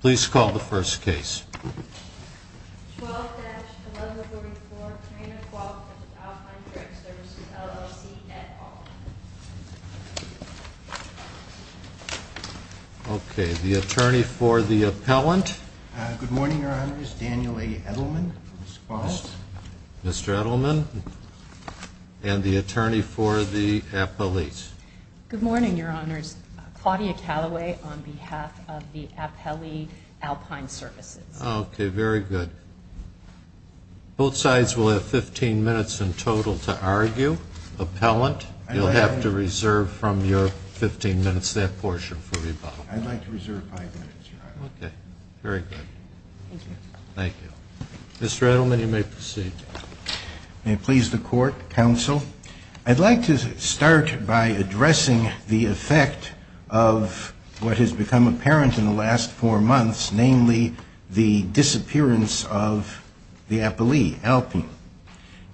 Please call the first case. 12-1144, Kareena Qualls v. Alpine Direct Services, LLC, et al. Okay, the attorney for the appellant. Good morning, Your Honors. Daniel A. Edelman, respond. Mr. Edelman, and the attorney for the appellate. Good morning, Your Honors. Claudia Calloway on behalf of the Appellee Alpine Services. Okay, very good. Both sides will have 15 minutes in total to argue. Appellant, you'll have to reserve from your 15 minutes that portion for rebuttal. I'd like to reserve 5 minutes, Your Honor. Okay, very good. Thank you. Mr. Edelman, you may proceed. May it please the Court, Counsel. Counsel, I'd like to start by addressing the effect of what has become apparent in the last four months, namely the disappearance of the appellee, Alpine.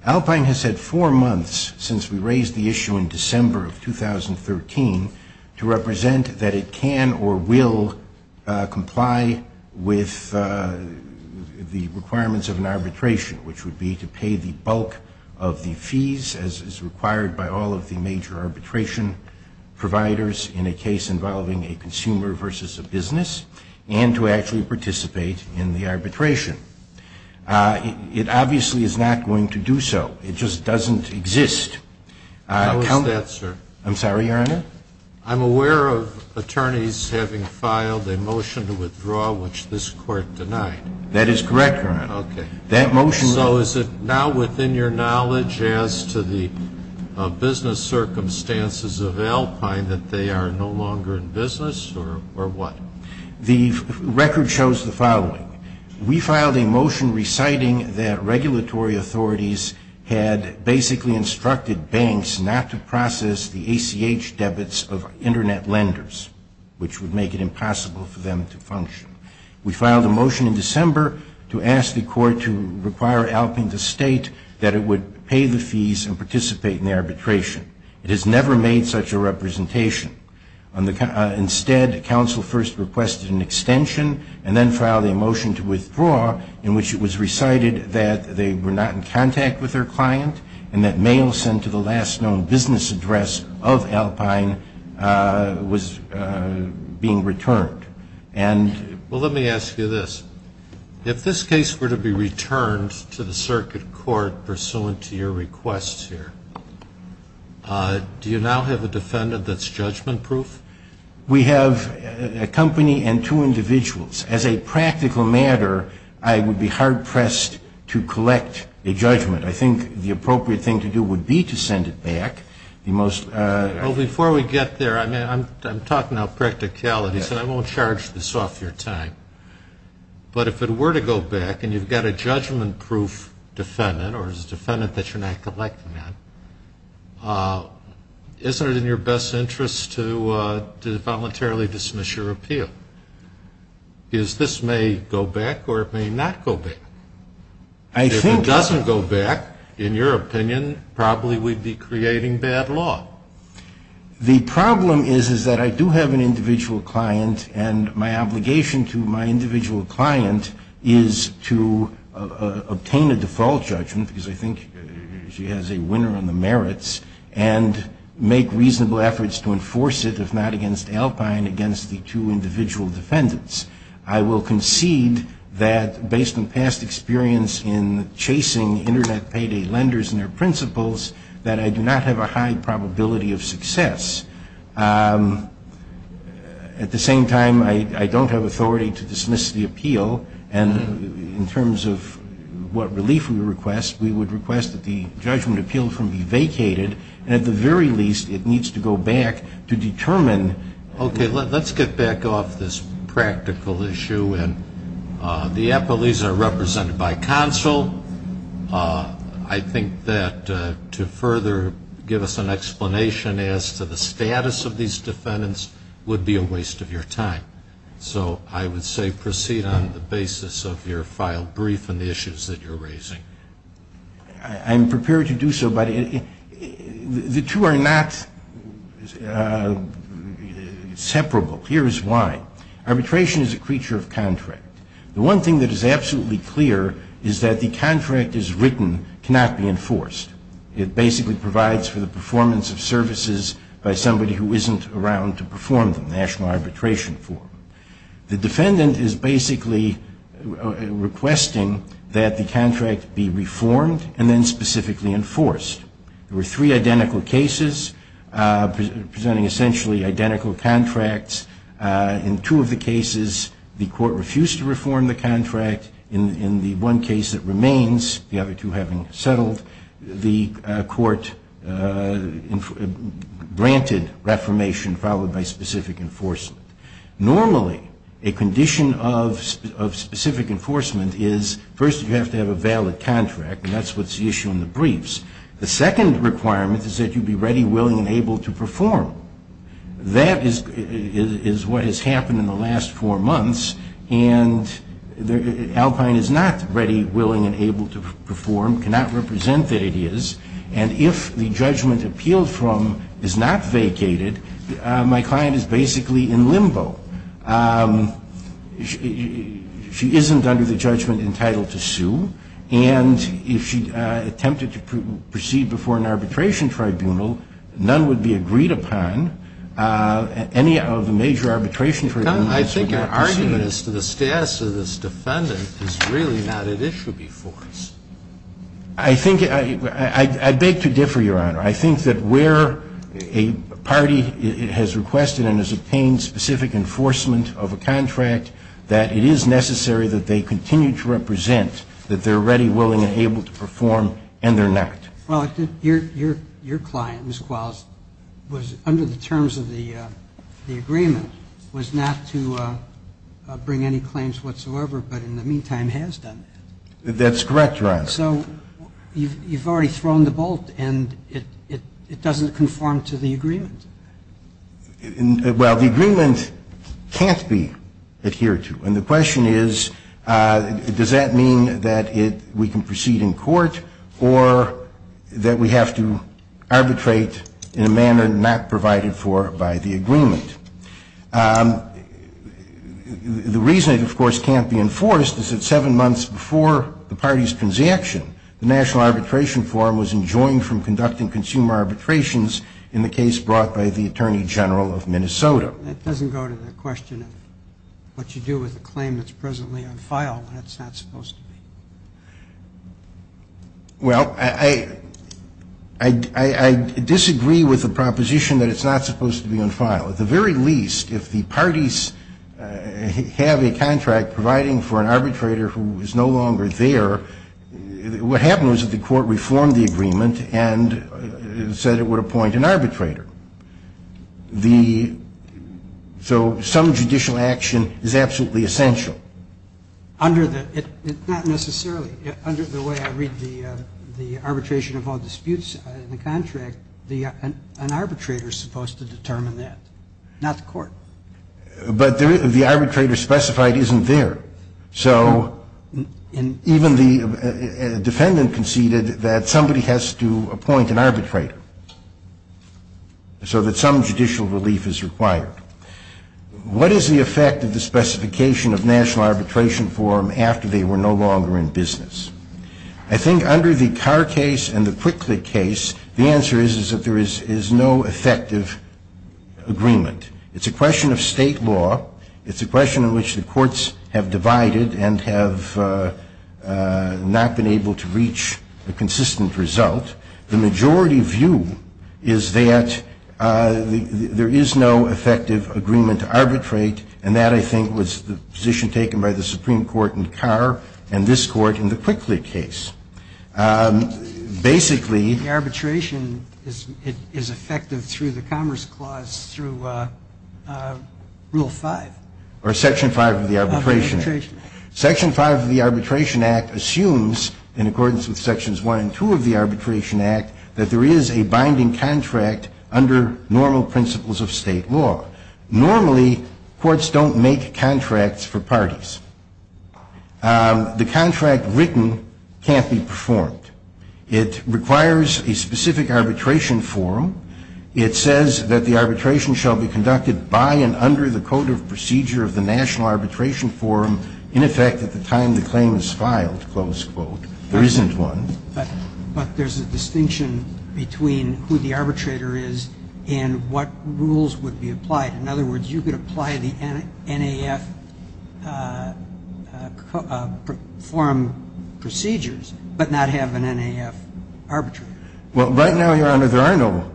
Alpine has had four months since we raised the issue in December of 2013 to represent that it can or will comply with the requirements of an arbitration, which would be to pay the bulk of the fees as is required by all of the major arbitration providers in a case involving a consumer versus a business, and to actually participate in the arbitration. It obviously is not going to do so. It just doesn't exist. How is that, sir? I'm sorry, Your Honor? I'm aware of attorneys having filed a motion to withdraw, which this Court denied. That is correct, Your Honor. So is it now within your knowledge as to the business circumstances of Alpine that they are no longer in business, or what? The record shows the following. We filed a motion reciting that regulatory authorities had basically instructed banks not to process the ACH debits of Internet lenders, which would make it impossible for them to function. We filed a motion in December to ask the Court to require Alpine to state that it would pay the fees and participate in the arbitration. It has never made such a representation. Instead, counsel first requested an extension and then filed a motion to withdraw in which it was recited that they were not in contact with their client and that mail sent to the last known business address of Alpine was being returned. Well, let me ask you this. If this case were to be returned to the circuit court pursuant to your requests here, do you now have a defendant that's judgment-proof? We have a company and two individuals. As a practical matter, I would be hard-pressed to collect a judgment. I think the appropriate thing to do would be to send it back. Before we get there, I'm talking about practicality, so I won't charge this off your time. But if it were to go back and you've got a judgment-proof defendant or a defendant that you're not collecting on, isn't it in your best interest to voluntarily dismiss your appeal? Because this may go back or it may not go back. If it doesn't go back, in your opinion, probably we'd be creating bad law. The problem is that I do have an individual client and my obligation to my individual client is to obtain a default judgment because I think she has a winner on the merits and make reasonable efforts to enforce it, if not against Alpine, against the two individual defendants. I will concede that, based on past experience in chasing Internet payday lenders and their principals, that I do not have a high probability of success. At the same time, I don't have authority to dismiss the appeal. And in terms of what relief we request, we would request that the judgment appeal be vacated. And at the very least, it needs to go back to determine. Okay. Let's get back off this practical issue. And the appellees are represented by counsel. I think that to further give us an explanation as to the status of these defendants would be a waste of your time. So I would say proceed on the basis of your file brief and the issues that you're raising. I'm prepared to do so. But the two are not separable. Here is why. Arbitration is a creature of contract. The one thing that is absolutely clear is that the contract as written cannot be enforced. It basically provides for the performance of services by somebody who isn't around to perform the national arbitration form. The defendant is basically requesting that the contract be reformed and then specifically enforced. There were three identical cases presenting essentially identical contracts. In two of the cases, the court refused to reform the contract. In the one case that remains, the other two having settled, the court granted reformation followed by specific enforcement. Normally, a condition of specific enforcement is first you have to have a valid contract. That's the issue in the briefs. The second requirement is that you be ready, willing, and able to perform. That is what has happened in the last four months. And Alpine is not ready, willing, and able to perform, cannot represent that it is. And if the judgment appealed from is not vacated, my client is basically in limbo. She isn't under the judgment entitled to sue. And if she attempted to proceed before an arbitration tribunal, none would be agreed upon. Any of the major arbitration tribunals would not proceed. I think your argument as to the status of this defendant is really not at issue before us. I think, I beg to differ, Your Honor. I think that where a party has requested and has obtained specific enforcement of a contract, that it is necessary that they continue to represent that they're ready, willing, and able to perform, and they're not. Well, your client, Ms. Qualls, was under the terms of the agreement, was not to bring any claims whatsoever, but in the meantime has done that. That's correct, Your Honor. So you've already thrown the bolt, and it doesn't conform to the agreement. Well, the agreement can't be adhered to. And the question is, does that mean that we can proceed in court or that we have to arbitrate in a manner not provided for by the agreement? The reason it, of course, can't be enforced is that seven months before the party's transaction, the National Arbitration Forum was enjoined from conducting consumer arbitrations in the case brought by the Attorney General of Minnesota. That doesn't go to the question of what you do with a claim that's presently on file when it's not supposed to be. Well, I disagree with the proposition that it's not supposed to be on file. At the very least, if the parties have a contract providing for an arbitrator who is no longer there, what happened was that the court reformed the agreement and said it would appoint an arbitrator. So some judicial action is absolutely essential. Not necessarily. Under the way I read the arbitration of all disputes in the contract, an arbitrator is supposed to determine that, not the court. But the arbitrator specified isn't there. So even the defendant conceded that somebody has to appoint an arbitrator. So that some judicial relief is required. What is the effect of the specification of National Arbitration Forum after they were no longer in business? I think under the Carr case and the Quickly case, the answer is that there is no effective agreement. It's a question of state law. It's a question in which the courts have divided and have not been able to reach a consistent result. The majority view is that there is no effective agreement to arbitrate, and that, I think, was the position taken by the Supreme Court in Carr and this Court in the Quickly case. Basically the arbitration is effective through the Commerce Clause through Rule 5. Or Section 5 of the Arbitration Act. Section 5 of the Arbitration Act assumes, in accordance with Sections 1 and 2 of the Arbitration Act, that there is a binding contract under normal principles of state law. Normally, courts don't make contracts for parties. The contract written can't be performed. It requires a specific arbitration forum. It says that the arbitration shall be conducted by and under the code of procedure of the National Arbitration Forum in effect at the time the claim is filed, close quote. There isn't one. But there's a distinction between who the arbitrator is and what rules would be applied. In other words, you could apply the NAF forum procedures but not have an NAF arbitrator. Well, right now, Your Honor, there are no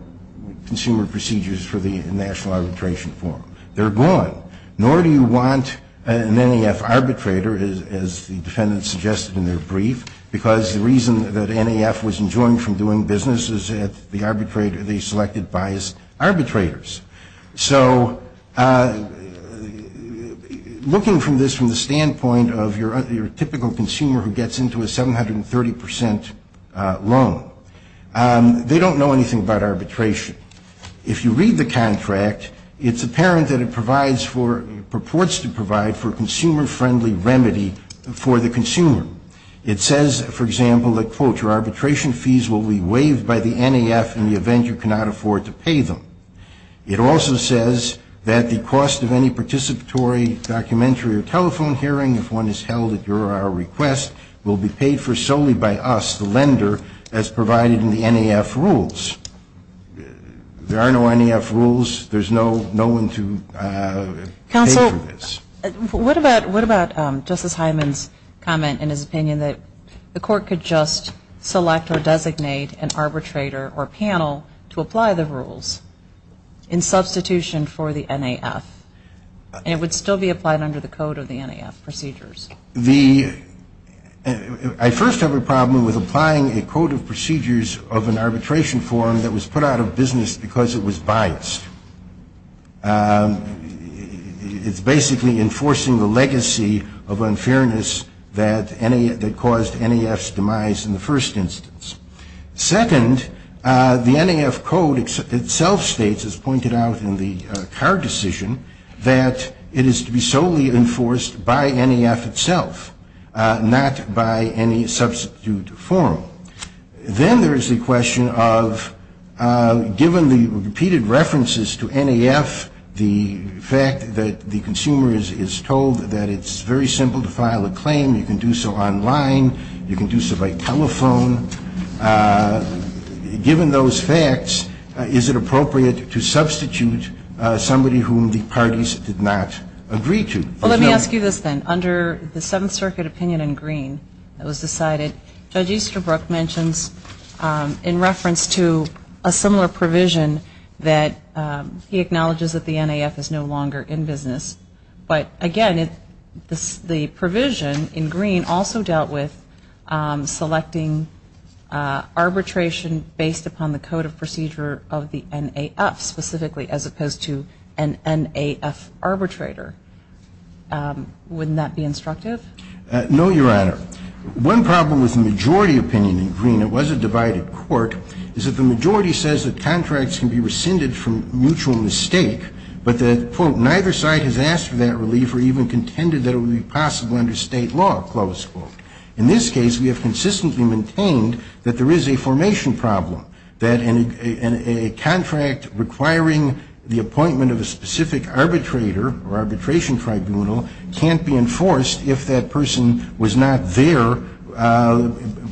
consumer procedures for the National Arbitration Forum. They're gone. Nor do you want an NAF arbitrator, as the defendant suggested in their brief, because the reason that NAF was enjoined from doing business is that the arbitrator, they selected biased arbitrators. So looking from this, from the standpoint of your typical consumer who gets into a 730 percent loan, they don't know anything about arbitration. If you read the contract, it's apparent that it provides for, purports to provide for a consumer-friendly remedy for the consumer. It says, for example, that, quote, your arbitration fees will be waived by the NAF in the event you cannot afford to pay them. It also says that the cost of any participatory documentary or telephone hearing, if one is held at your or our request, will be paid for solely by us, the lender, as provided in the NAF rules. There are no NAF rules. There's no one to pay for this. Counsel, what about Justice Hyman's comment in his opinion that the court could just select or designate an arbitrator or panel to apply the rules in substitution for the NAF, and it would still be applied under the code of the NAF procedures? I first have a problem with applying a code of procedures of an arbitration form that was put out of business because it was biased. It's basically enforcing the legacy of unfairness that caused NAF's demise in the first instance. Second, the NAF code itself states, as pointed out in the Carr decision, that it is to be solely enforced by NAF itself, not by any substitute form. Then there is the question of, given the repeated references to NAF, the fact that the consumer is told that it's very simple to file a claim, you can do so online, you can do so by telephone, given those facts, is it appropriate to substitute somebody whom the parties did not agree to? Well, let me ask you this then. Under the Seventh Circuit opinion in Green, it was decided, Judge Easterbrook mentions, in reference to a similar provision, that he acknowledges that the NAF is no longer in business. But again, the provision in Green also dealt with selecting arbitration based upon the code of procedure of the NAF, specifically as opposed to an NAF arbitrator. Wouldn't that be instructive? No, Your Honor. One problem with the majority opinion in Green, it was a divided court, is that the majority says that contracts can be rescinded from mutual mistake, but that, quote, neither side has asked for that relief or even contended that it would be possible under state law, close quote. In this case, we have consistently maintained that there is a formation problem, that a contract requiring the appointment of a specific arbitrator or arbitration tribunal can't be enforced if that person was not there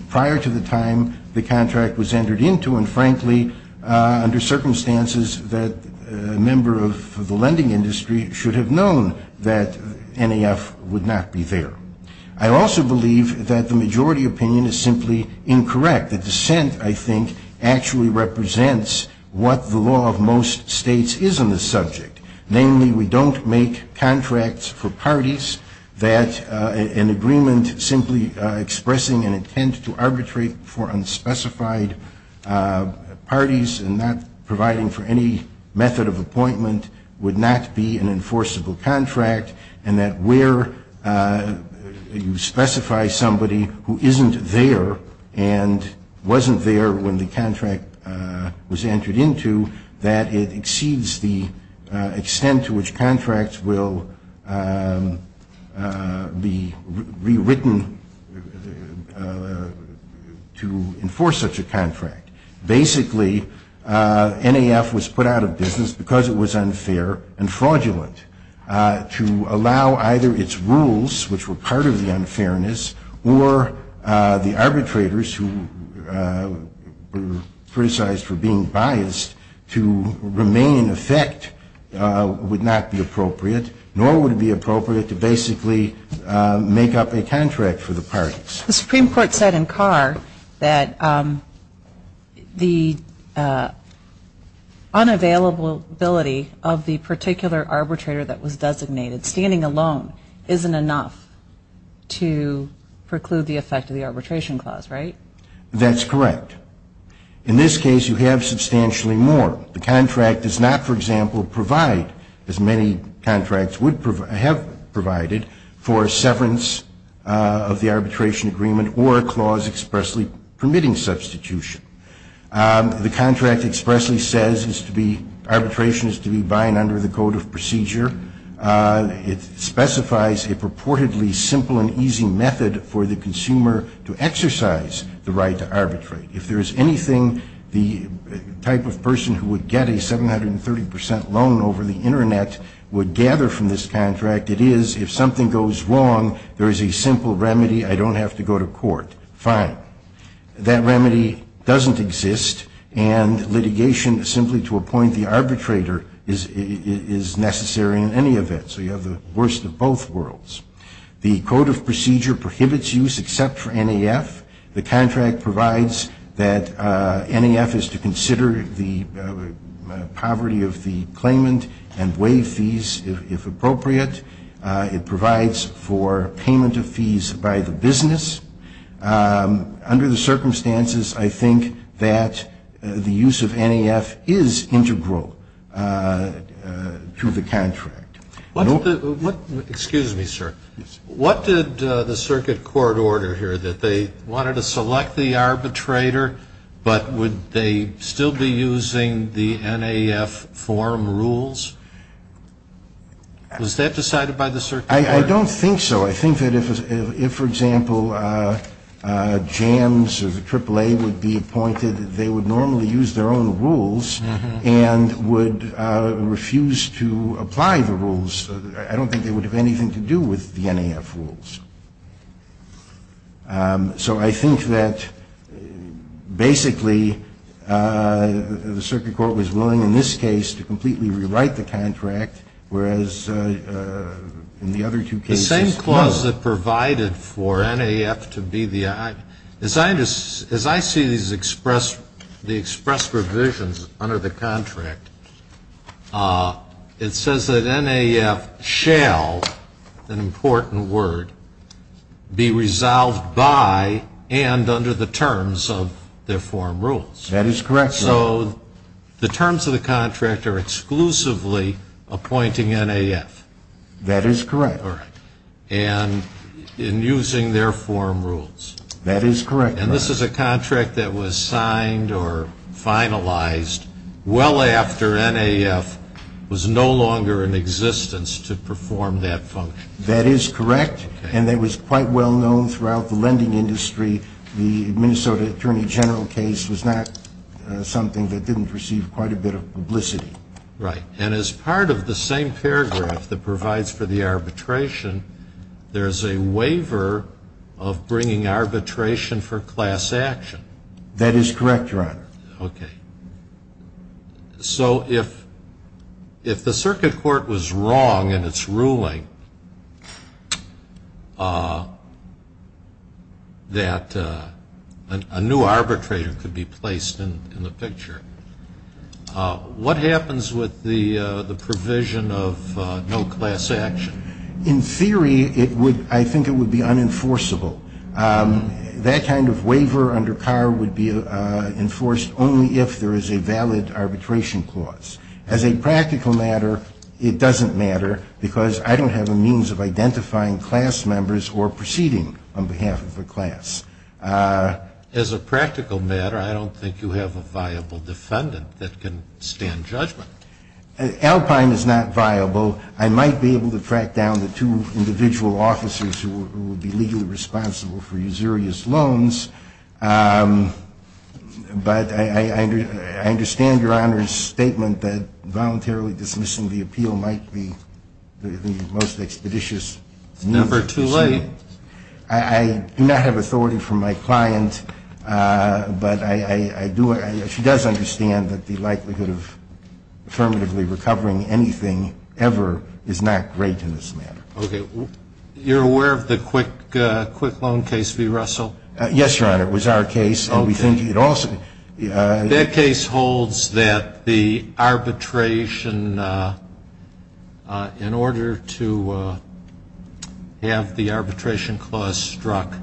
prior to the time the contract was entered into, and frankly, under circumstances that a member of the lending industry should have known that NAF would not be there. I also believe that the majority opinion is simply incorrect. The dissent, I think, actually represents what the law of most states is on this subject. Namely, we don't make contracts for parties that an agreement simply expressing an intent to arbitrate for unspecified parties and not providing for any method of appointment would not be an enforceable contract, and that where you specify somebody who isn't there and wasn't there when the contract was entered into, that it exceeds the extent to which contracts will be rewritten to enforce such a contract. Basically, NAF was put out of business because it was unfair and fraudulent. To allow either its rules, which were part of the unfairness, or the arbitrators who were criticized for being biased to remain in effect would not be appropriate, nor would it be appropriate to basically make up a contract for the parties. The Supreme Court said in Carr that the unavailability of the particular arbitrator that was designated standing alone isn't enough to preclude the effect of the arbitration clause, right? That's correct. In this case, you have substantially more. The contract does not, for example, provide, as many contracts have provided, for severance of the arbitration agreement or a clause expressly permitting substitution. The contract expressly says arbitration is to be by and under the code of procedure. It specifies a purportedly simple and easy method for the consumer to exercise the right to arbitrate. If there is anything the type of person who would get a 730% loan over the Internet would gather from this contract, it is if something goes wrong, there is a simple remedy. The Supreme Court, fine. That remedy doesn't exist, and litigation simply to appoint the arbitrator is necessary in any event. So you have the worst of both worlds. The code of procedure prohibits use except for NAF. The contract provides that NAF is to consider the poverty of the claimant and waive fees if appropriate. It provides for payment of fees by the business. Under the circumstances, I think that the use of NAF is integral to the contract. Excuse me, sir. What did the circuit court order here, that they wanted to select the arbitrator, but would they still be using the NAF form rules? Was that decided by the circuit court? I don't think so. I think that if, for example, JAMS or the AAA would be appointed, they would normally use their own rules and would refuse to apply the rules. I don't think they would have anything to do with the NAF rules. So I think that basically, the circuit court was willing in this case to completely rewrite the contract, whereas in the other two cases, the same clause that provided for NAF to be the, as I see these expressed, the expressed revisions under the contract, it says that NAF shall, an important word, be resolved by and under the terms of their form rules. That is correct, Your Honor. So the terms of the contract are exclusively appointing NAF. That is correct. And in using their form rules. That is correct, Your Honor. And this is a contract that was signed or finalized well after NAF was no longer in existence to perform that function. That is correct. And it was quite well known throughout the lending industry the Minnesota Attorney General case was not something that didn't receive quite a bit of publicity. Right. And as part of the same paragraph that provides for the arbitration, there is a waiver of bringing arbitration for class action. That is correct, Your Honor. Okay. So if the circuit court was wrong in its ruling that a new arbitrator could be placed in the picture, what happens with the provision of no class action? In theory, I think it would be unenforceable. That kind of waiver under Carr would be enforced only if there is a valid arbitration clause. As a practical matter, it doesn't matter because I don't have a means of identifying class members or proceeding on behalf of a class. As a practical matter, I don't think you have a viable defendant that can stand judgment. Alpine is not viable. I might be able to track down the two individual officers who would be legally responsible for usurious loans, but I understand Your Honor's statement that voluntarily dismissing the appeal might be the most expeditious move. It's never too late. I do not have authority from my client, but I do, she does understand that the likelihood of affirmatively recovering anything ever is not great in this matter. Okay. You're aware of the Quick Loan case v. Russell? Yes, Your Honor. It was our case. That case holds that the arbitration, in order to have the arbitration clause struck,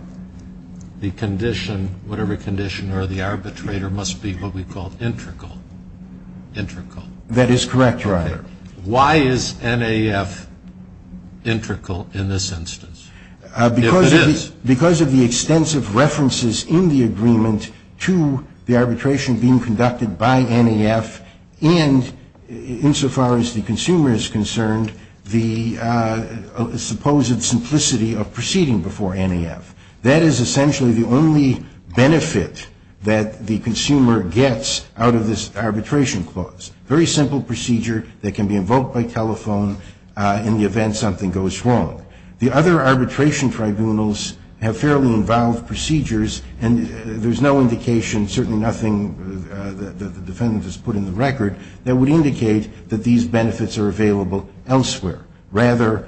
the condition, whatever condition, or the arbitrator must be what we call integral. Integral. That is correct, Your Honor. Why is NAF integral in this instance? If it is. Because of the extensive references in the agreement to the arbitration being conducted by NAF and, insofar as the consumer is concerned, the supposed simplicity of proceeding before NAF. That is essentially the only benefit that the consumer gets out of this arbitration clause. Very simple procedure that can be invoked by telephone in the event something goes wrong. The other arbitration tribunals have fairly involved procedures and there's no indication, certainly nothing that the defendant has put in the record, that would indicate that these benefits are available elsewhere. Rather,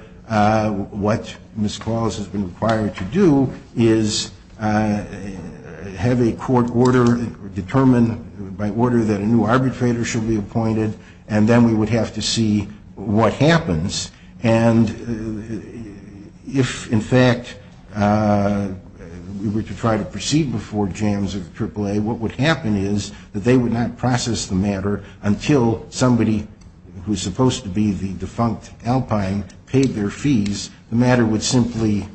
what Ms. Claus has been required to do is have a court order, determine by order that a new arbitrator should be appointed and then we would have to see what happens. And if, in fact, we were to try to proceed before JAMS or AAA, what would happen is that they would not process the matter until somebody who's supposed to be the defunct alpine paid their fees. The matter would simply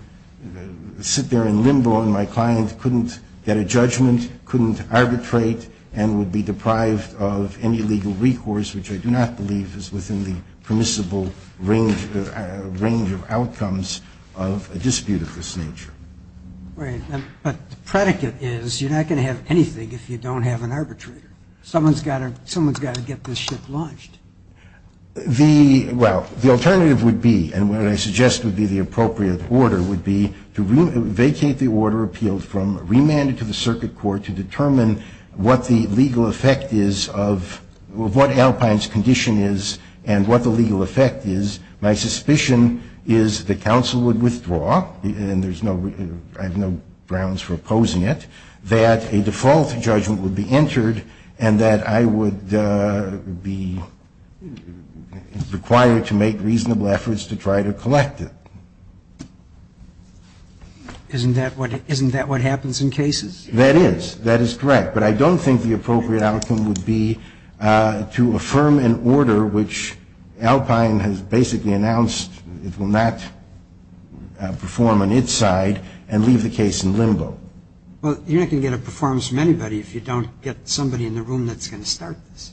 sit there in limbo and my client couldn't get a judgment, couldn't arbitrate and would be deprived of any legal recourse, which I do not believe is within the permissible range of outcomes of a dispute of this nature. Right, but the predicate is you're not going to have anything if you don't have an arbitrator. Someone's got to get this ship launched. The, well, the alternative would be, and what I suggest would be the appropriate order, would be to vacate the order appealed from, remand it to the circuit court to determine what the legal effect is of, what alpine's condition is and what the legal effect is. My suspicion is the counsel would withdraw and there's no, I have no grounds for opposing it, that a default judgment would be entered and that I would be required to make reasonable efforts to try to collect it. Isn't that what, isn't that what happens in cases? That is, that is correct, but I don't think the appropriate outcome would be to affirm an order which alpine has basically announced it will not perform on its side and leave the case in limbo. Well, you're not going to get a performance from anybody if you don't get somebody in the room that's going to start this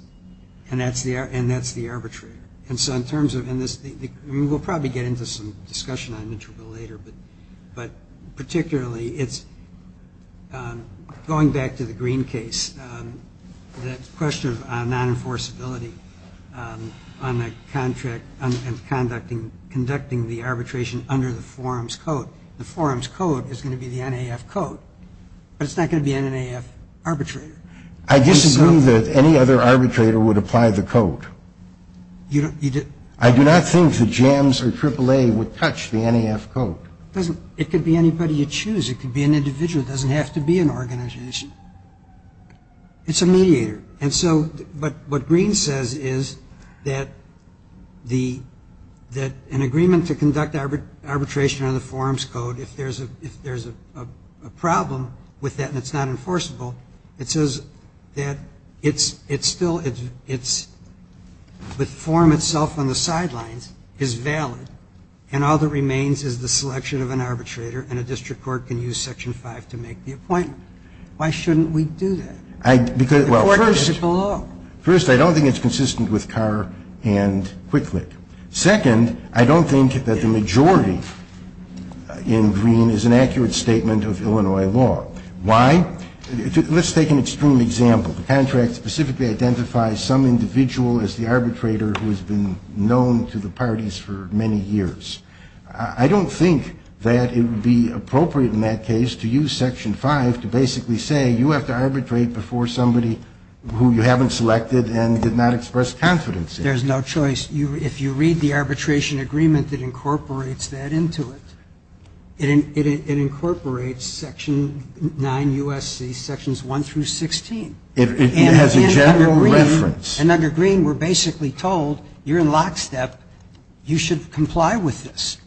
and that's the, and that's the arbitrator. And so in terms of, and this, we'll probably get into some discussion on it a little bit later, but, but particularly it's, going back to the Green case, that question of non-enforceability on the contract and conducting, conducting the arbitration under the forum's code. The forum's code is going to be the NAF code, but it's not going to be an NAF arbitrator. I disagree that any other arbitrator would apply the code. You don't, you don't. I do not think the JAMS or AAA would touch the NAF code. It doesn't, it could be anybody you choose. It could be an individual. It doesn't have to be an organization. It's a mediator. And so, but what Green says is that the, that an agreement to conduct arbitration under the forum's code if there's a, if there's a problem with that and it's not enforceable, it says that it's, it's still, it's, it's, the forum itself on the sidelines is valid and all that remains is the selection of an arbitrator and a district court can use Section 5 to make the appointment. Why shouldn't we do that? The court is below. First, I don't think it's consistent with Carr and Quick-Click. Second, I don't think that the majority in Green is an accurate statement of Illinois law. Why? Let's take an extreme example. The contract specifically identifies some individual as the arbitrator who has been known to the parties for many years. I don't think that it would be appropriate in that case to use Section 5 to basically say you have to arbitrate before somebody who you haven't selected and did not express confidence in. There's no choice. If you read the arbitration agreement that incorporates that into it, it incorporates Section 9 U.S.C. Sections 1 through 16. It has a general reference. And under Green we're basically told you're in lockstep, you should comply with this.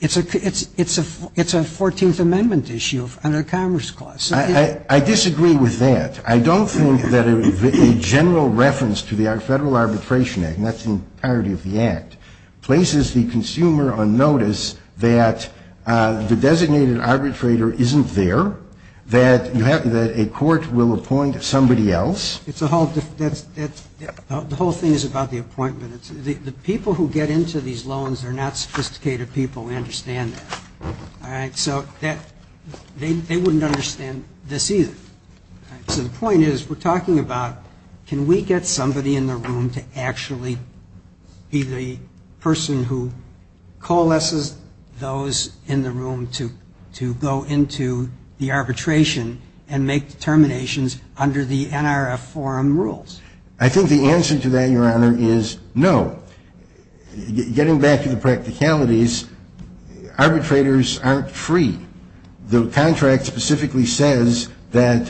It's a 14th Amendment issue under the Commerce Clause. I disagree with that. I don't think that a general reference to the Federal Arbitration Act, and that's the entirety of the Act, places the consumer on notice that the designated arbitrator isn't there, that a court will appoint somebody else. The whole thing is about the appointment. The people who get into these loans are not sophisticated people. We understand that. So they wouldn't understand this either. So the point is we're talking about can we get somebody in the room to actually be the person who coalesces those in the room to go into the arbitration and make determinations under the NRF forum rules? I think the answer to that, Your Honor, is no. Getting back to the practicalities, arbitrators aren't free. The contract specifically says that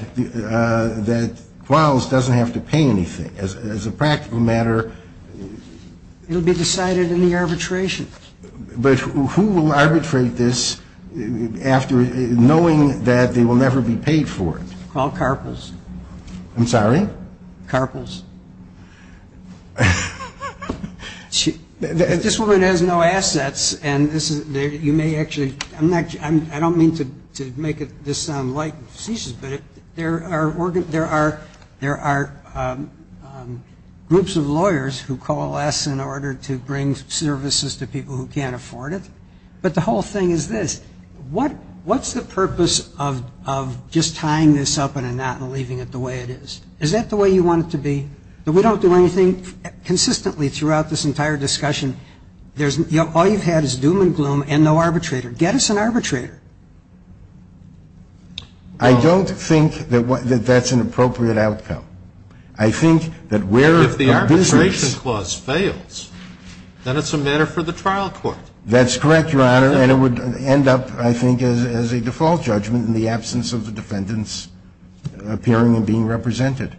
Quals doesn't have to pay anything. As a practical matter... It will be decided in the arbitration. But who will arbitrate this after knowing that they will never be paid for it? Qual Carpels. I'm sorry? Carpels. This woman has no assets, and you may actually – I don't mean to make this sound like facetious, but there are groups of lawyers who coalesce in order to bring services to people who can't afford it. But the whole thing is this. What's the purpose of just tying this up in a knot and leaving it the way it is? Is that the way you want it to be? We don't do anything consistently throughout this entire discussion. All you've had is doom and gloom and no arbitrator. Get us an arbitrator. I don't think that that's an appropriate outcome. I think that where our business... If the arbitration clause fails, then it's a matter for the trial court. That's correct, Your Honor. And it would end up, I think, as a default judgment in the absence of the defendants appearing and being represented.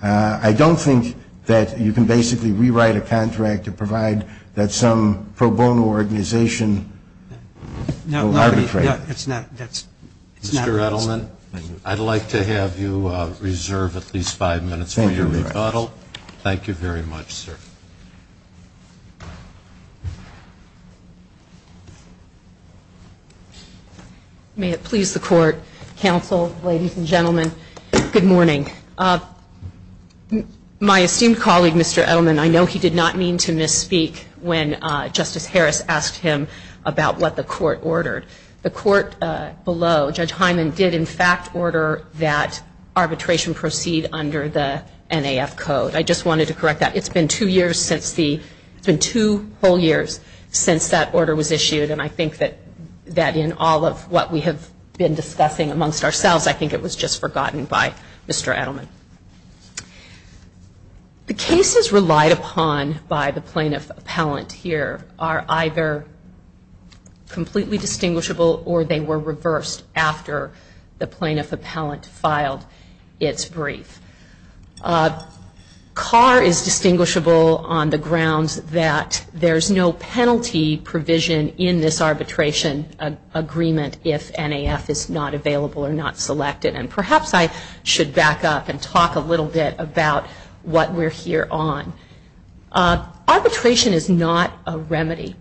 I don't think that you can basically rewrite a contract to provide that some pro bono organization will arbitrate it. Mr. Edelman, I'd like to have you reserve at least five minutes for your rebuttal. Thank you very much, sir. May it please the court, counsel, ladies and gentlemen, good morning. My esteemed colleague, Mr. Edelman, I know he did not mean to misspeak when Justice Harris asked him about what the court ordered. The court below, Judge Hyman, did in fact order that arbitration proceed under the NAF code. I just wanted to correct that. It's been two years since the... It's been two whole years since that order was issued, and I think that in all of what we have been discussing amongst ourselves, I think it was just forgotten by Mr. Edelman. The cases relied upon by the plaintiff appellant here are either completely distinguishable or they were reversed after the plaintiff appellant filed its brief. Carr is distinguishable on the grounds that there's no penalty provision in this arbitration agreement if NAF is not available or not selected. And perhaps I should back up and talk a little bit about what we're here on. Arbitration is not a remedy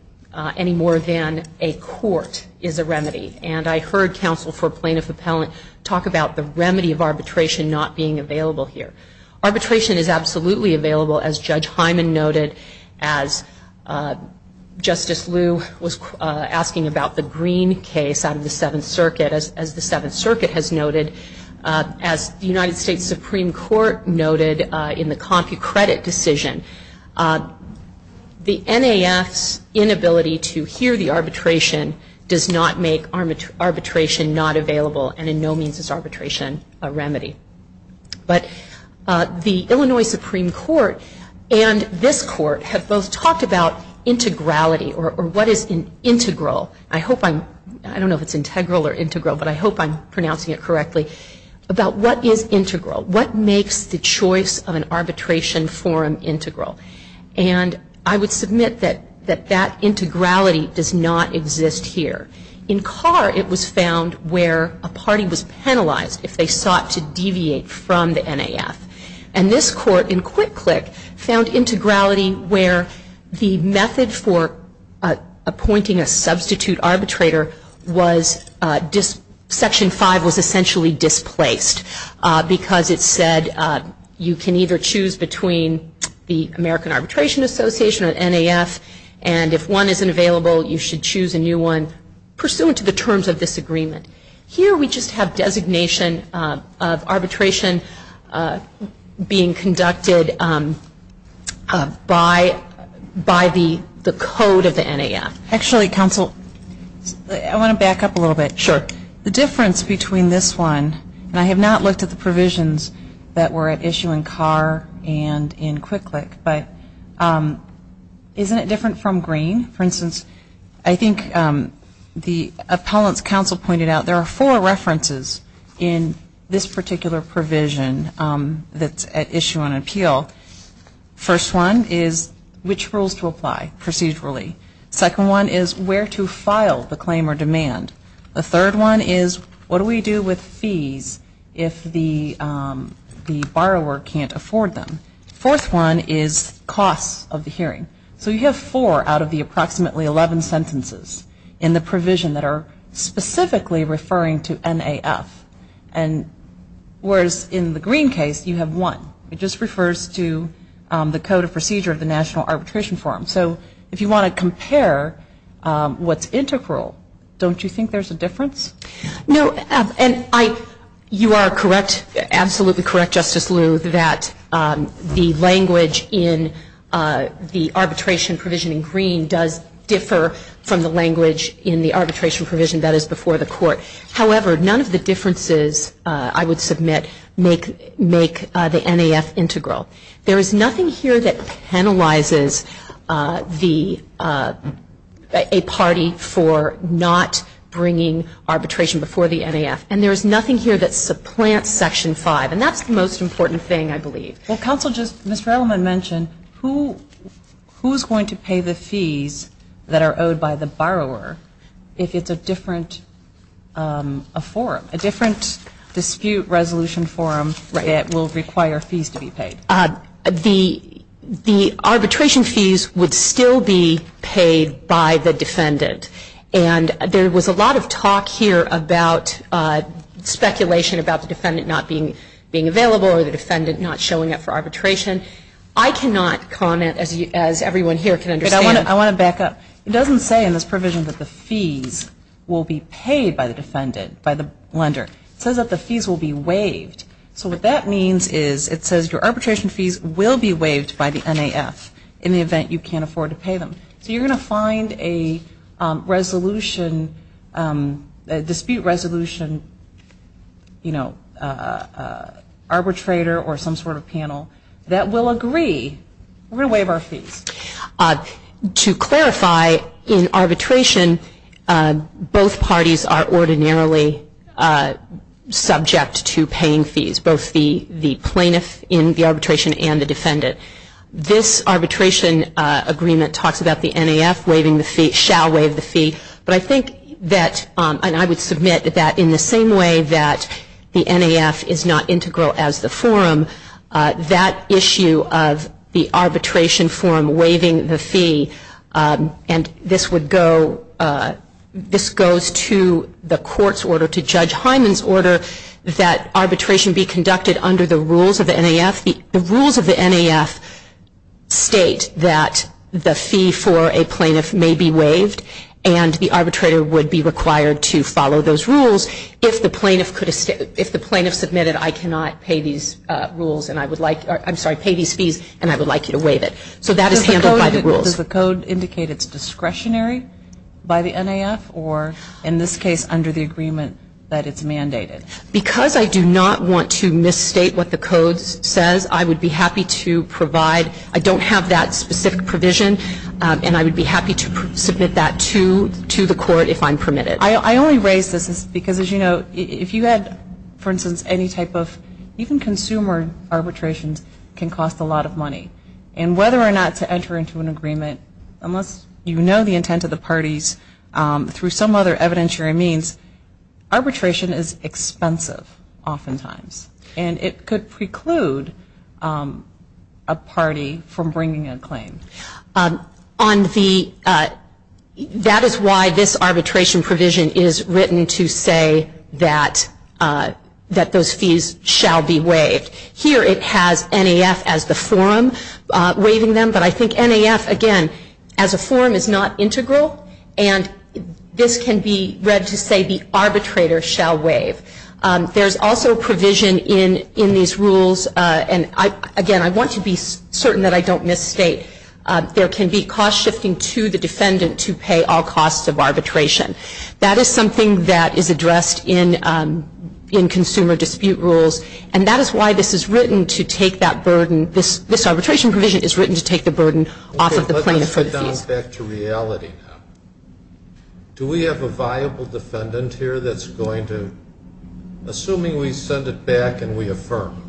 any more than a court is a remedy. And I heard counsel for plaintiff appellant talk about the remedy of arbitration not being available here. Arbitration is absolutely available, as Judge Hyman noted, as Justice Liu was asking about the Green case out of the Seventh Circuit. As the Seventh Circuit has noted, as the United States Supreme Court noted in the CompuCredit decision, the NAF's inability to hear the arbitration does not make arbitration not available and in no means is arbitration a remedy. But the Illinois Supreme Court and this court have both talked about integrality or what is an integral. I hope I'm, I don't know if it's integral or integral, but I hope I'm pronouncing it correctly. About what is integral? What makes the choice of an arbitration forum integral? And I would submit that that integrality does not exist here. In Carr, it was found where a party was penalized if they sought to deviate from the NAF. And this court in Quick Click found integrality where the method for appointing a substitute arbitrator was Section 5 was essentially displaced because it said you can either choose between the American Arbitration Association or NAF and if one isn't available, you should choose a new one pursuant to the terms of this agreement. Here we just have designation of arbitration being conducted by the code of the NAF. Actually, counsel, I want to back up a little bit. Sure. The difference between this one, and I have not looked at the provisions that were at issue in Carr and in Quick Click, but isn't it different from Green? For instance, I think the appellant's counsel pointed out there are four references in this particular provision that's at issue on appeal. First one is which rules to apply procedurally. Second one is where to file the claim or demand. The third one is what do we do with fees if the borrower can't afford them. Fourth one is costs of the hearing. So you have four out of the approximately 11 sentences in the provision that are specifically referring to NAF. Whereas in the Green case, you have one. It just refers to the code of procedure of the National Arbitration Forum. So if you want to compare what's integral, don't you think there's a difference? No. And you are correct, absolutely correct, Justice Liu, that the language in the arbitration provision in Green does differ from the language in the arbitration provision that is before the court. However, none of the differences, I would submit, make the NAF integral. There is nothing here that penalizes a party for not bringing arbitration before the NAF. And there is nothing here that supplants Section 5. And that's the most important thing, I believe. Well, counsel, just Ms. Releman mentioned, who is going to pay the fees that are owed by the borrower if it's a different forum, a different dispute resolution forum that will require fees to be paid. The arbitration fees would still be paid by the defendant. And there was a lot of talk here about speculation about the defendant not being available or the defendant not showing up for arbitration. I cannot comment, as everyone here can understand. I want to back up. It says that the fees will be paid by the defendant, by the lender. It says that the fees will be waived. So what that means is it says your arbitration fees will be waived by the NAF in the event you can't afford to pay them. So you're going to find a resolution, a dispute resolution, you know, arbitrator or some sort of panel that will agree, we're going to waive our fees. To clarify, in arbitration, both parties are ordinarily subject to paying fees, both the plaintiff in the arbitration and the defendant. This arbitration agreement talks about the NAF waiving the fee, shall waive the fee. But I think that, and I would submit that in the same way that the NAF is not integral as the forum, that issue of the arbitration forum waiving the fee, and this would go, this goes to the court's order, to Judge Hyman's order, that arbitration be conducted under the rules of the NAF. The rules of the NAF state that the fee for a plaintiff may be waived, and the arbitrator would be required to follow those rules. If the plaintiff could, if the plaintiff submitted, I cannot pay these rules, and I would like, I'm sorry, pay these fees, and I would like you to waive it. So that is handled by the rules. Does the code indicate it's discretionary by the NAF, or in this case, under the agreement that it's mandated? Because I do not want to misstate what the code says, I would be happy to provide, I don't have that specific provision, and I would be happy to submit that to the court if I'm permitted. I only raise this because, as you know, if you had, for instance, any type of, even consumer arbitrations can cost a lot of money. And whether or not to enter into an agreement, unless you know the intent of the parties, through some other evidentiary means, arbitration is expensive, oftentimes. And it could preclude a party from bringing a claim. On the, that is why this arbitration provision is written to say that those fees shall be waived. Here it has NAF as the forum waiving them, but I think NAF, again, as a forum is not integral, and this can be read to say the arbitrator shall waive. There's also provision in these rules, and again, I want to be certain that I don't misstate, there can be cost shifting to the defendant to pay all costs of arbitration. This is just something that is addressed in consumer dispute rules, and that is why this is written to take that burden. This arbitration provision is written to take the burden off of the plaintiff for the fees. Okay, let's get down back to reality now. Do we have a viable defendant here that's going to, assuming we send it back and we affirm,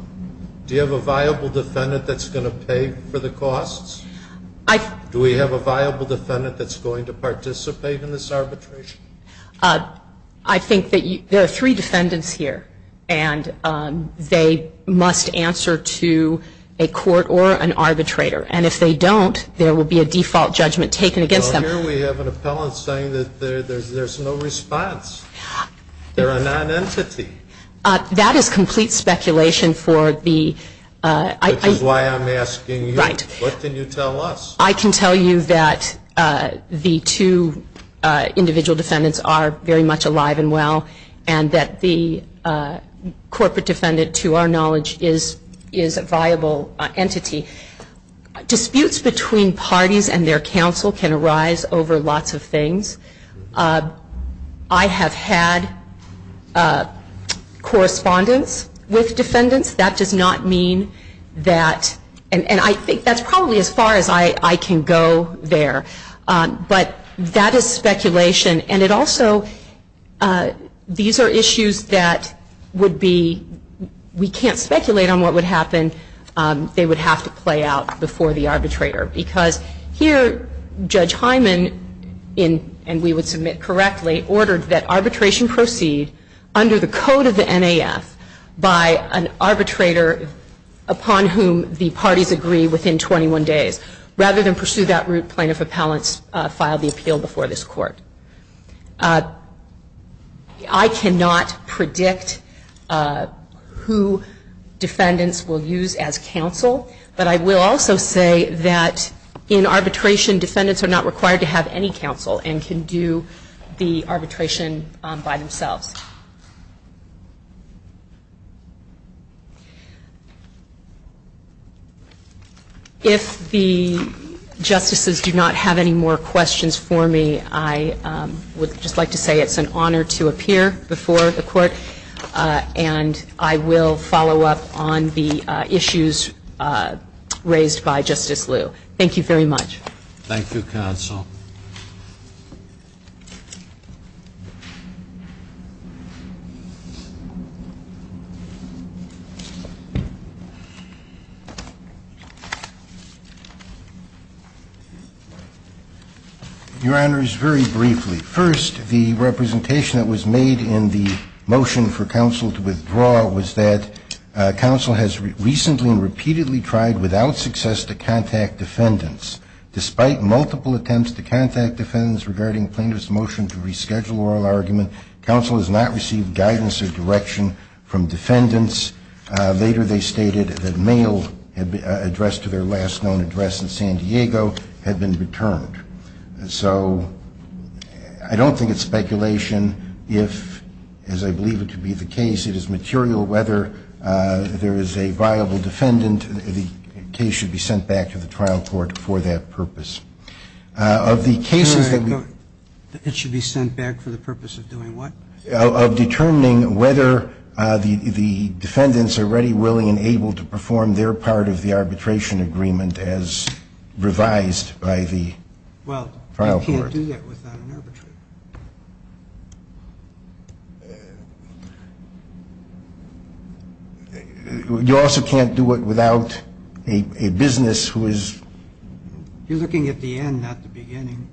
do you have a viable defendant that's going to pay for the costs? Do we have a viable defendant that's going to participate in this arbitration? I think that there are three defendants here, and they must answer to a court or an arbitrator, and if they don't, there will be a default judgment taken against them. Well, here we have an appellant saying that there's no response. They're a nonentity. That is complete speculation for the... Which is why I'm asking you. Right. What can you tell us? I can tell you that the two individual defendants are very much alive and well, and that the corporate defendant, to our knowledge, is a viable entity. Disputes between parties and their counsel can arise over lots of things. I have had correspondence with defendants. That does not mean that... And I think that's probably as far as I can go there. But that is speculation, and also these are issues that would be... We can't speculate on what would happen. They would have to play out before the arbitrator, because here Judge Hyman, and we would submit correctly, ordered that arbitration proceed under the code of the NAF by an arbitrator upon whom the parties agree within 21 days. plaintiff appellants filed the appeal before this court. I cannot predict who defendants will use as counsel, but I will also say that in arbitration, defendants are not required to have any counsel and can do the arbitration by themselves. If the justices do not have any more questions for me, I would just like to say it's an honor to appear before the court, and I will follow up on the issues raised by Justice Liu. Thank you very much. Thank you, counsel. Your Honors, very briefly. First, the representation that was made in the motion for counsel to withdraw was that counsel has recently and repeatedly tried without success to contact defendants. The defense has not been successful in reaching out to defendants. The counsel has not received guidance or direction from defendants. Later, they stated that mail addressed to their last known address in San Diego had been returned. So I don't think it's speculation. If, as I believe it to be the case, it is material whether there is a viable defendant, the case should be sent back to the trial court for that purpose. Of the cases that... It should be sent back for the purpose of doing what? Of determining whether the defendants are ready, willing and able to perform their part of the arbitration agreement as revised by the trial court. Well, you can't do that without an arbitrator. You also can't do it without a business who is... You're looking at the end, not the beginning.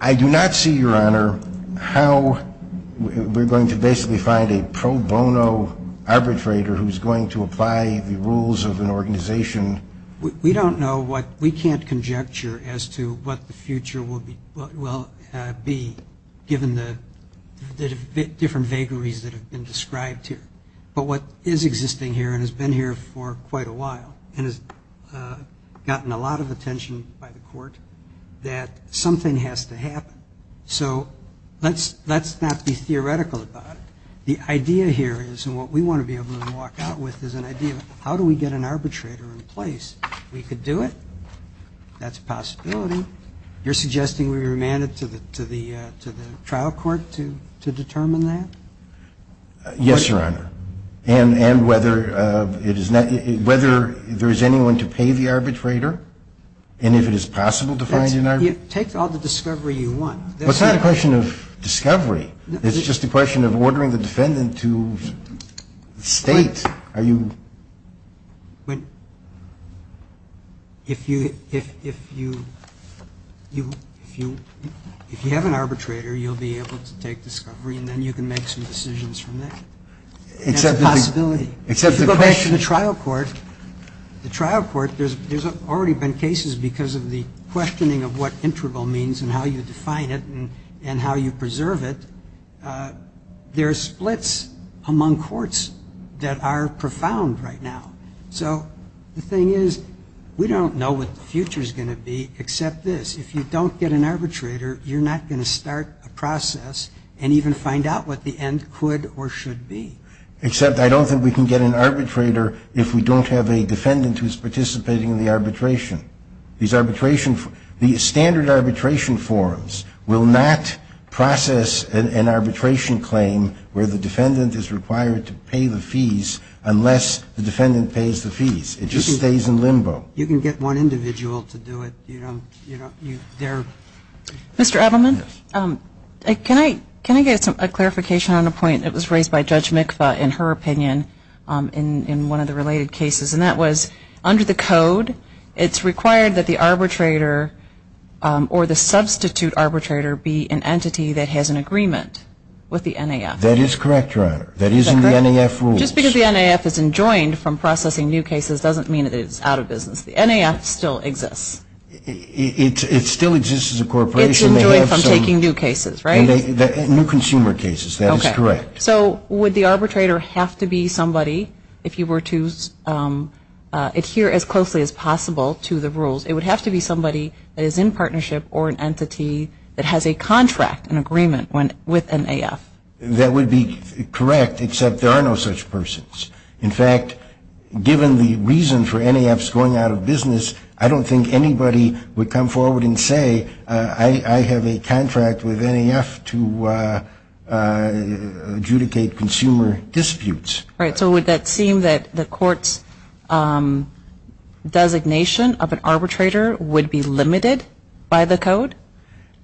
I do not see, Your Honor, how we're going to basically find a pro bono arbitrator who's going to apply the rules of an organization. We don't know what... We can't conjecture as to what the future will be given the different vagaries that have been described here. But what is existing here and has been here for quite a while and has gotten a lot of attention by the court, that something has to happen. So let's not be theoretical about it. The idea here is, and what we want to be able to walk out with, is an idea of how do we get an arbitrator in place? We could do it. That's a possibility. You're suggesting we remand it to the trial court to determine that? Yes, Your Honor. And whether there is anyone to pay the arbitrator? And if it is possible to find an arbitrator? Take all the discovery you want. It's not a question of discovery. It's just a question of ordering the defendant to state. If you have an arbitrator, you'll be able to take discovery and then you can make some decisions from that. That's a possibility. If you go back to the trial court, the trial court, there's already been cases because of the questioning of what interval means and how you define it and how you preserve it. There are splits among courts that are profound right now. So the thing is, we don't know what the future is going to be except this, if you don't get an arbitrator, you're not going to start a process and even find out what the end could or should be. Except I don't think we can get an arbitrator if we don't have a defendant who is participating in the arbitration. These standard arbitration forms will not process an arbitration claim where the defendant is required to pay the fees unless the defendant pays the fees. It just stays in limbo. You can get one individual to do it. Mr. Edelman, can I get a clarification on a point that was raised by Judge Mikva in her opinion in one of the related cases, and that was under the code, it's required that the arbitrator or the substitute arbitrator be an entity that has an agreement with the NAF. That is correct, Your Honor. That is in the NAF rules. Just because the NAF is enjoined from processing new cases doesn't mean that it's out of business. The NAF still exists. It still exists as a corporation. It's enjoined from taking new cases, right? New consumer cases. That is correct. So would the arbitrator have to be somebody, if you were to adhere as closely as possible to the rules, it would have to be somebody that is in partnership or an entity that has a contract, an agreement with NAF. That would be correct, except there are no such persons. In fact, given the reason for NAFs going out of business, I don't think anybody would come forward and say, I have a contract with NAF to adjudicate consumer disputes. Right. So would that seem that the court's designation of an arbitrator would be limited by the code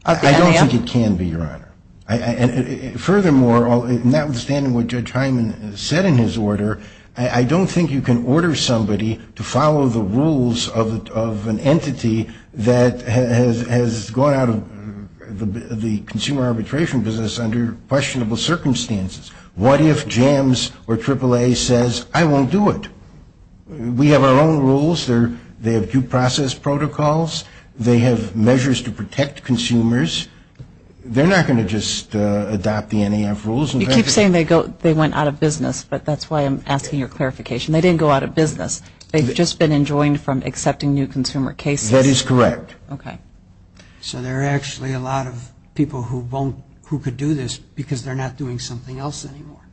of the NAF? I don't think it can be, Your Honor. Furthermore, notwithstanding what Judge Hyman said in his order, I don't think you can order somebody to follow the rules of an entity that has gone out of the consumer arbitration business under questionable circumstances. What if JAMS or AAA says, I won't do it? We have our own rules. They have due process protocols. They have measures to protect consumers. They're not going to just adopt the NAF rules. You keep saying they went out of business, but that's why I'm asking your clarification. They didn't go out of business. They've just been enjoined from accepting new consumer cases. That is correct. Okay. So there are actually a lot of people who could do this because they're not doing something else anymore.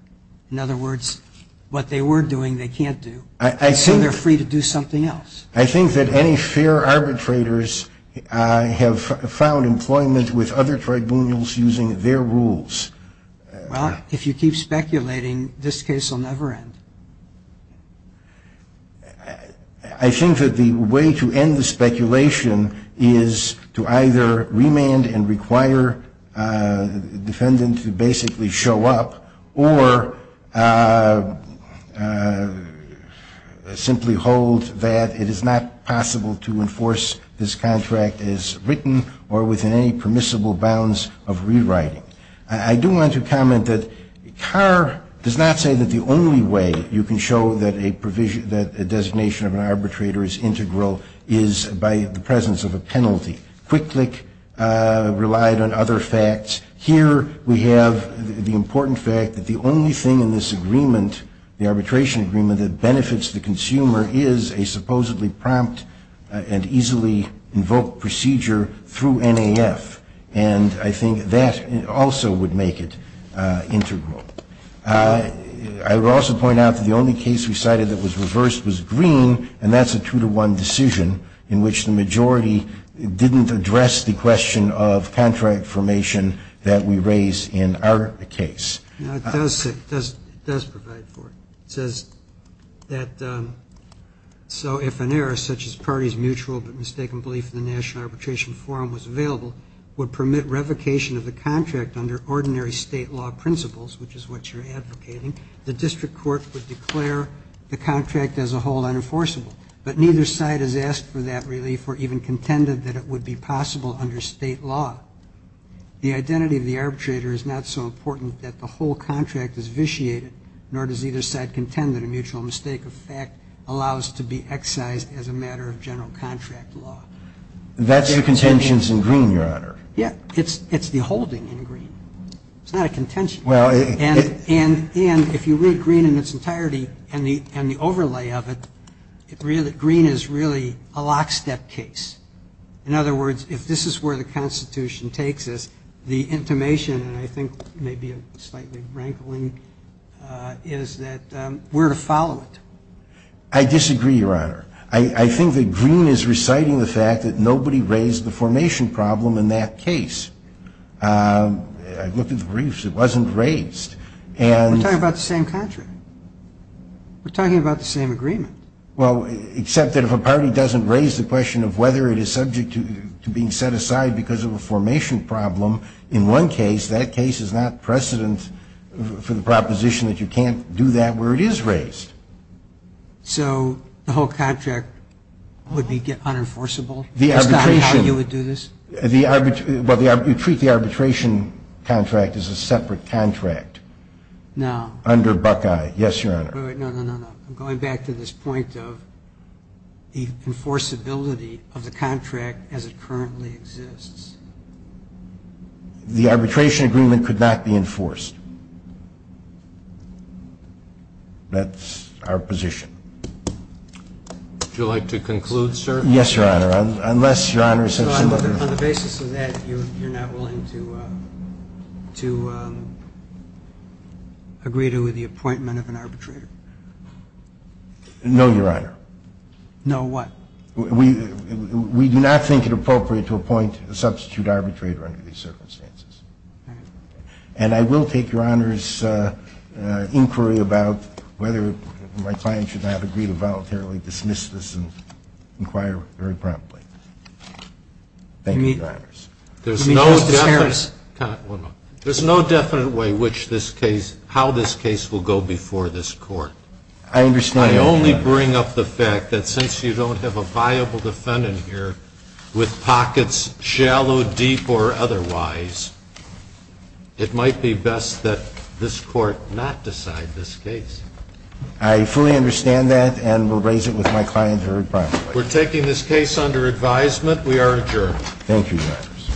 In other words, what they were doing, they can't do. I assume they're free to do something else. I think that any fair arbitrators have found employment with other tribunals using their rules. Well, if you keep speculating, this case will never end. I think that the way to end the speculation is to either remand and require the defendant to basically show up or simply hold that it is not possible to enforce this contract as written or within any permissible bounds of rewriting. I do want to comment that Carr does not say that the only way you can show that a designation of an arbitrator is integral is by the presence of a penalty. Quick Click relied on other facts. Here we have the important fact that the only thing in this agreement, the arbitration agreement that benefits the consumer, is a supposedly prompt and easily invoked procedure through NAF. And I think that also would make it integral. I would also point out that the only case we cited that was reversed was Green, and that's a two-to-one decision in which the majority didn't address the question of contract formation that we raise in our case. No, it does say, it does provide for it. It says that so if an error such as parties mutual but mistaken belief in the National Arbitration Forum was available would permit revocation of the contract under ordinary state law principles, which is what you're advocating, the district court would declare the contract as a whole unenforceable. But neither side has asked for that relief or even contended that it would be possible under state law. The identity of the arbitrator is not so important that the whole contract is vitiated, nor does either side contend that a mutual mistake of fact allows to be excised as a matter of general contract law. That's the contentions in Green, Your Honor. Yeah, it's the holding in Green. It's not a contention. And if you read Green in its entirety and the overlay of it, Green is really a lockstep case. In other words, if this is where the Constitution takes us, the intimation, and I think maybe slightly rankling, is that we're to follow it. I disagree, Your Honor. I think that Green is reciting the fact that nobody raised the formation problem in that case. I looked at the briefs. It wasn't raised. We're talking about the same contract. We're talking about the same agreement. Well, except that if a party doesn't raise the question of whether it is subject to being set aside because of a formation problem in one case, that case is not precedent for the proposition that you can't do that where it is raised. So the whole contract would be unenforceable? That's not how you would do this? Well, you treat the arbitration contract as a separate contract. No. Under Buckeye. Yes, Your Honor. No, no, no. I'm going back to this point of the enforceability of the contract as it currently exists. The arbitration agreement could not be enforced. That's our position. Would you like to conclude, sir? Yes, Your Honor. Unless Your Honor is so similar. So on the basis of that, you're not willing to agree to the appointment of an arbitrator? No, Your Honor. No, what? We do not think it appropriate to appoint a substitute arbitrator under these circumstances. And I will take Your Honor's inquiry about whether my client should not agree to voluntarily dismiss this and inquire very promptly. Thank you, Your Honors. There's no definite way how this case will go before this court. I understand. I only bring up the fact that since you don't have a viable defendant here with pockets shallow, deep, or otherwise, it might be best that this court not decide this case. I fully understand that and will raise it with my client very promptly. We're taking this case under advisement. We are adjourned. Thank you, Your Honors.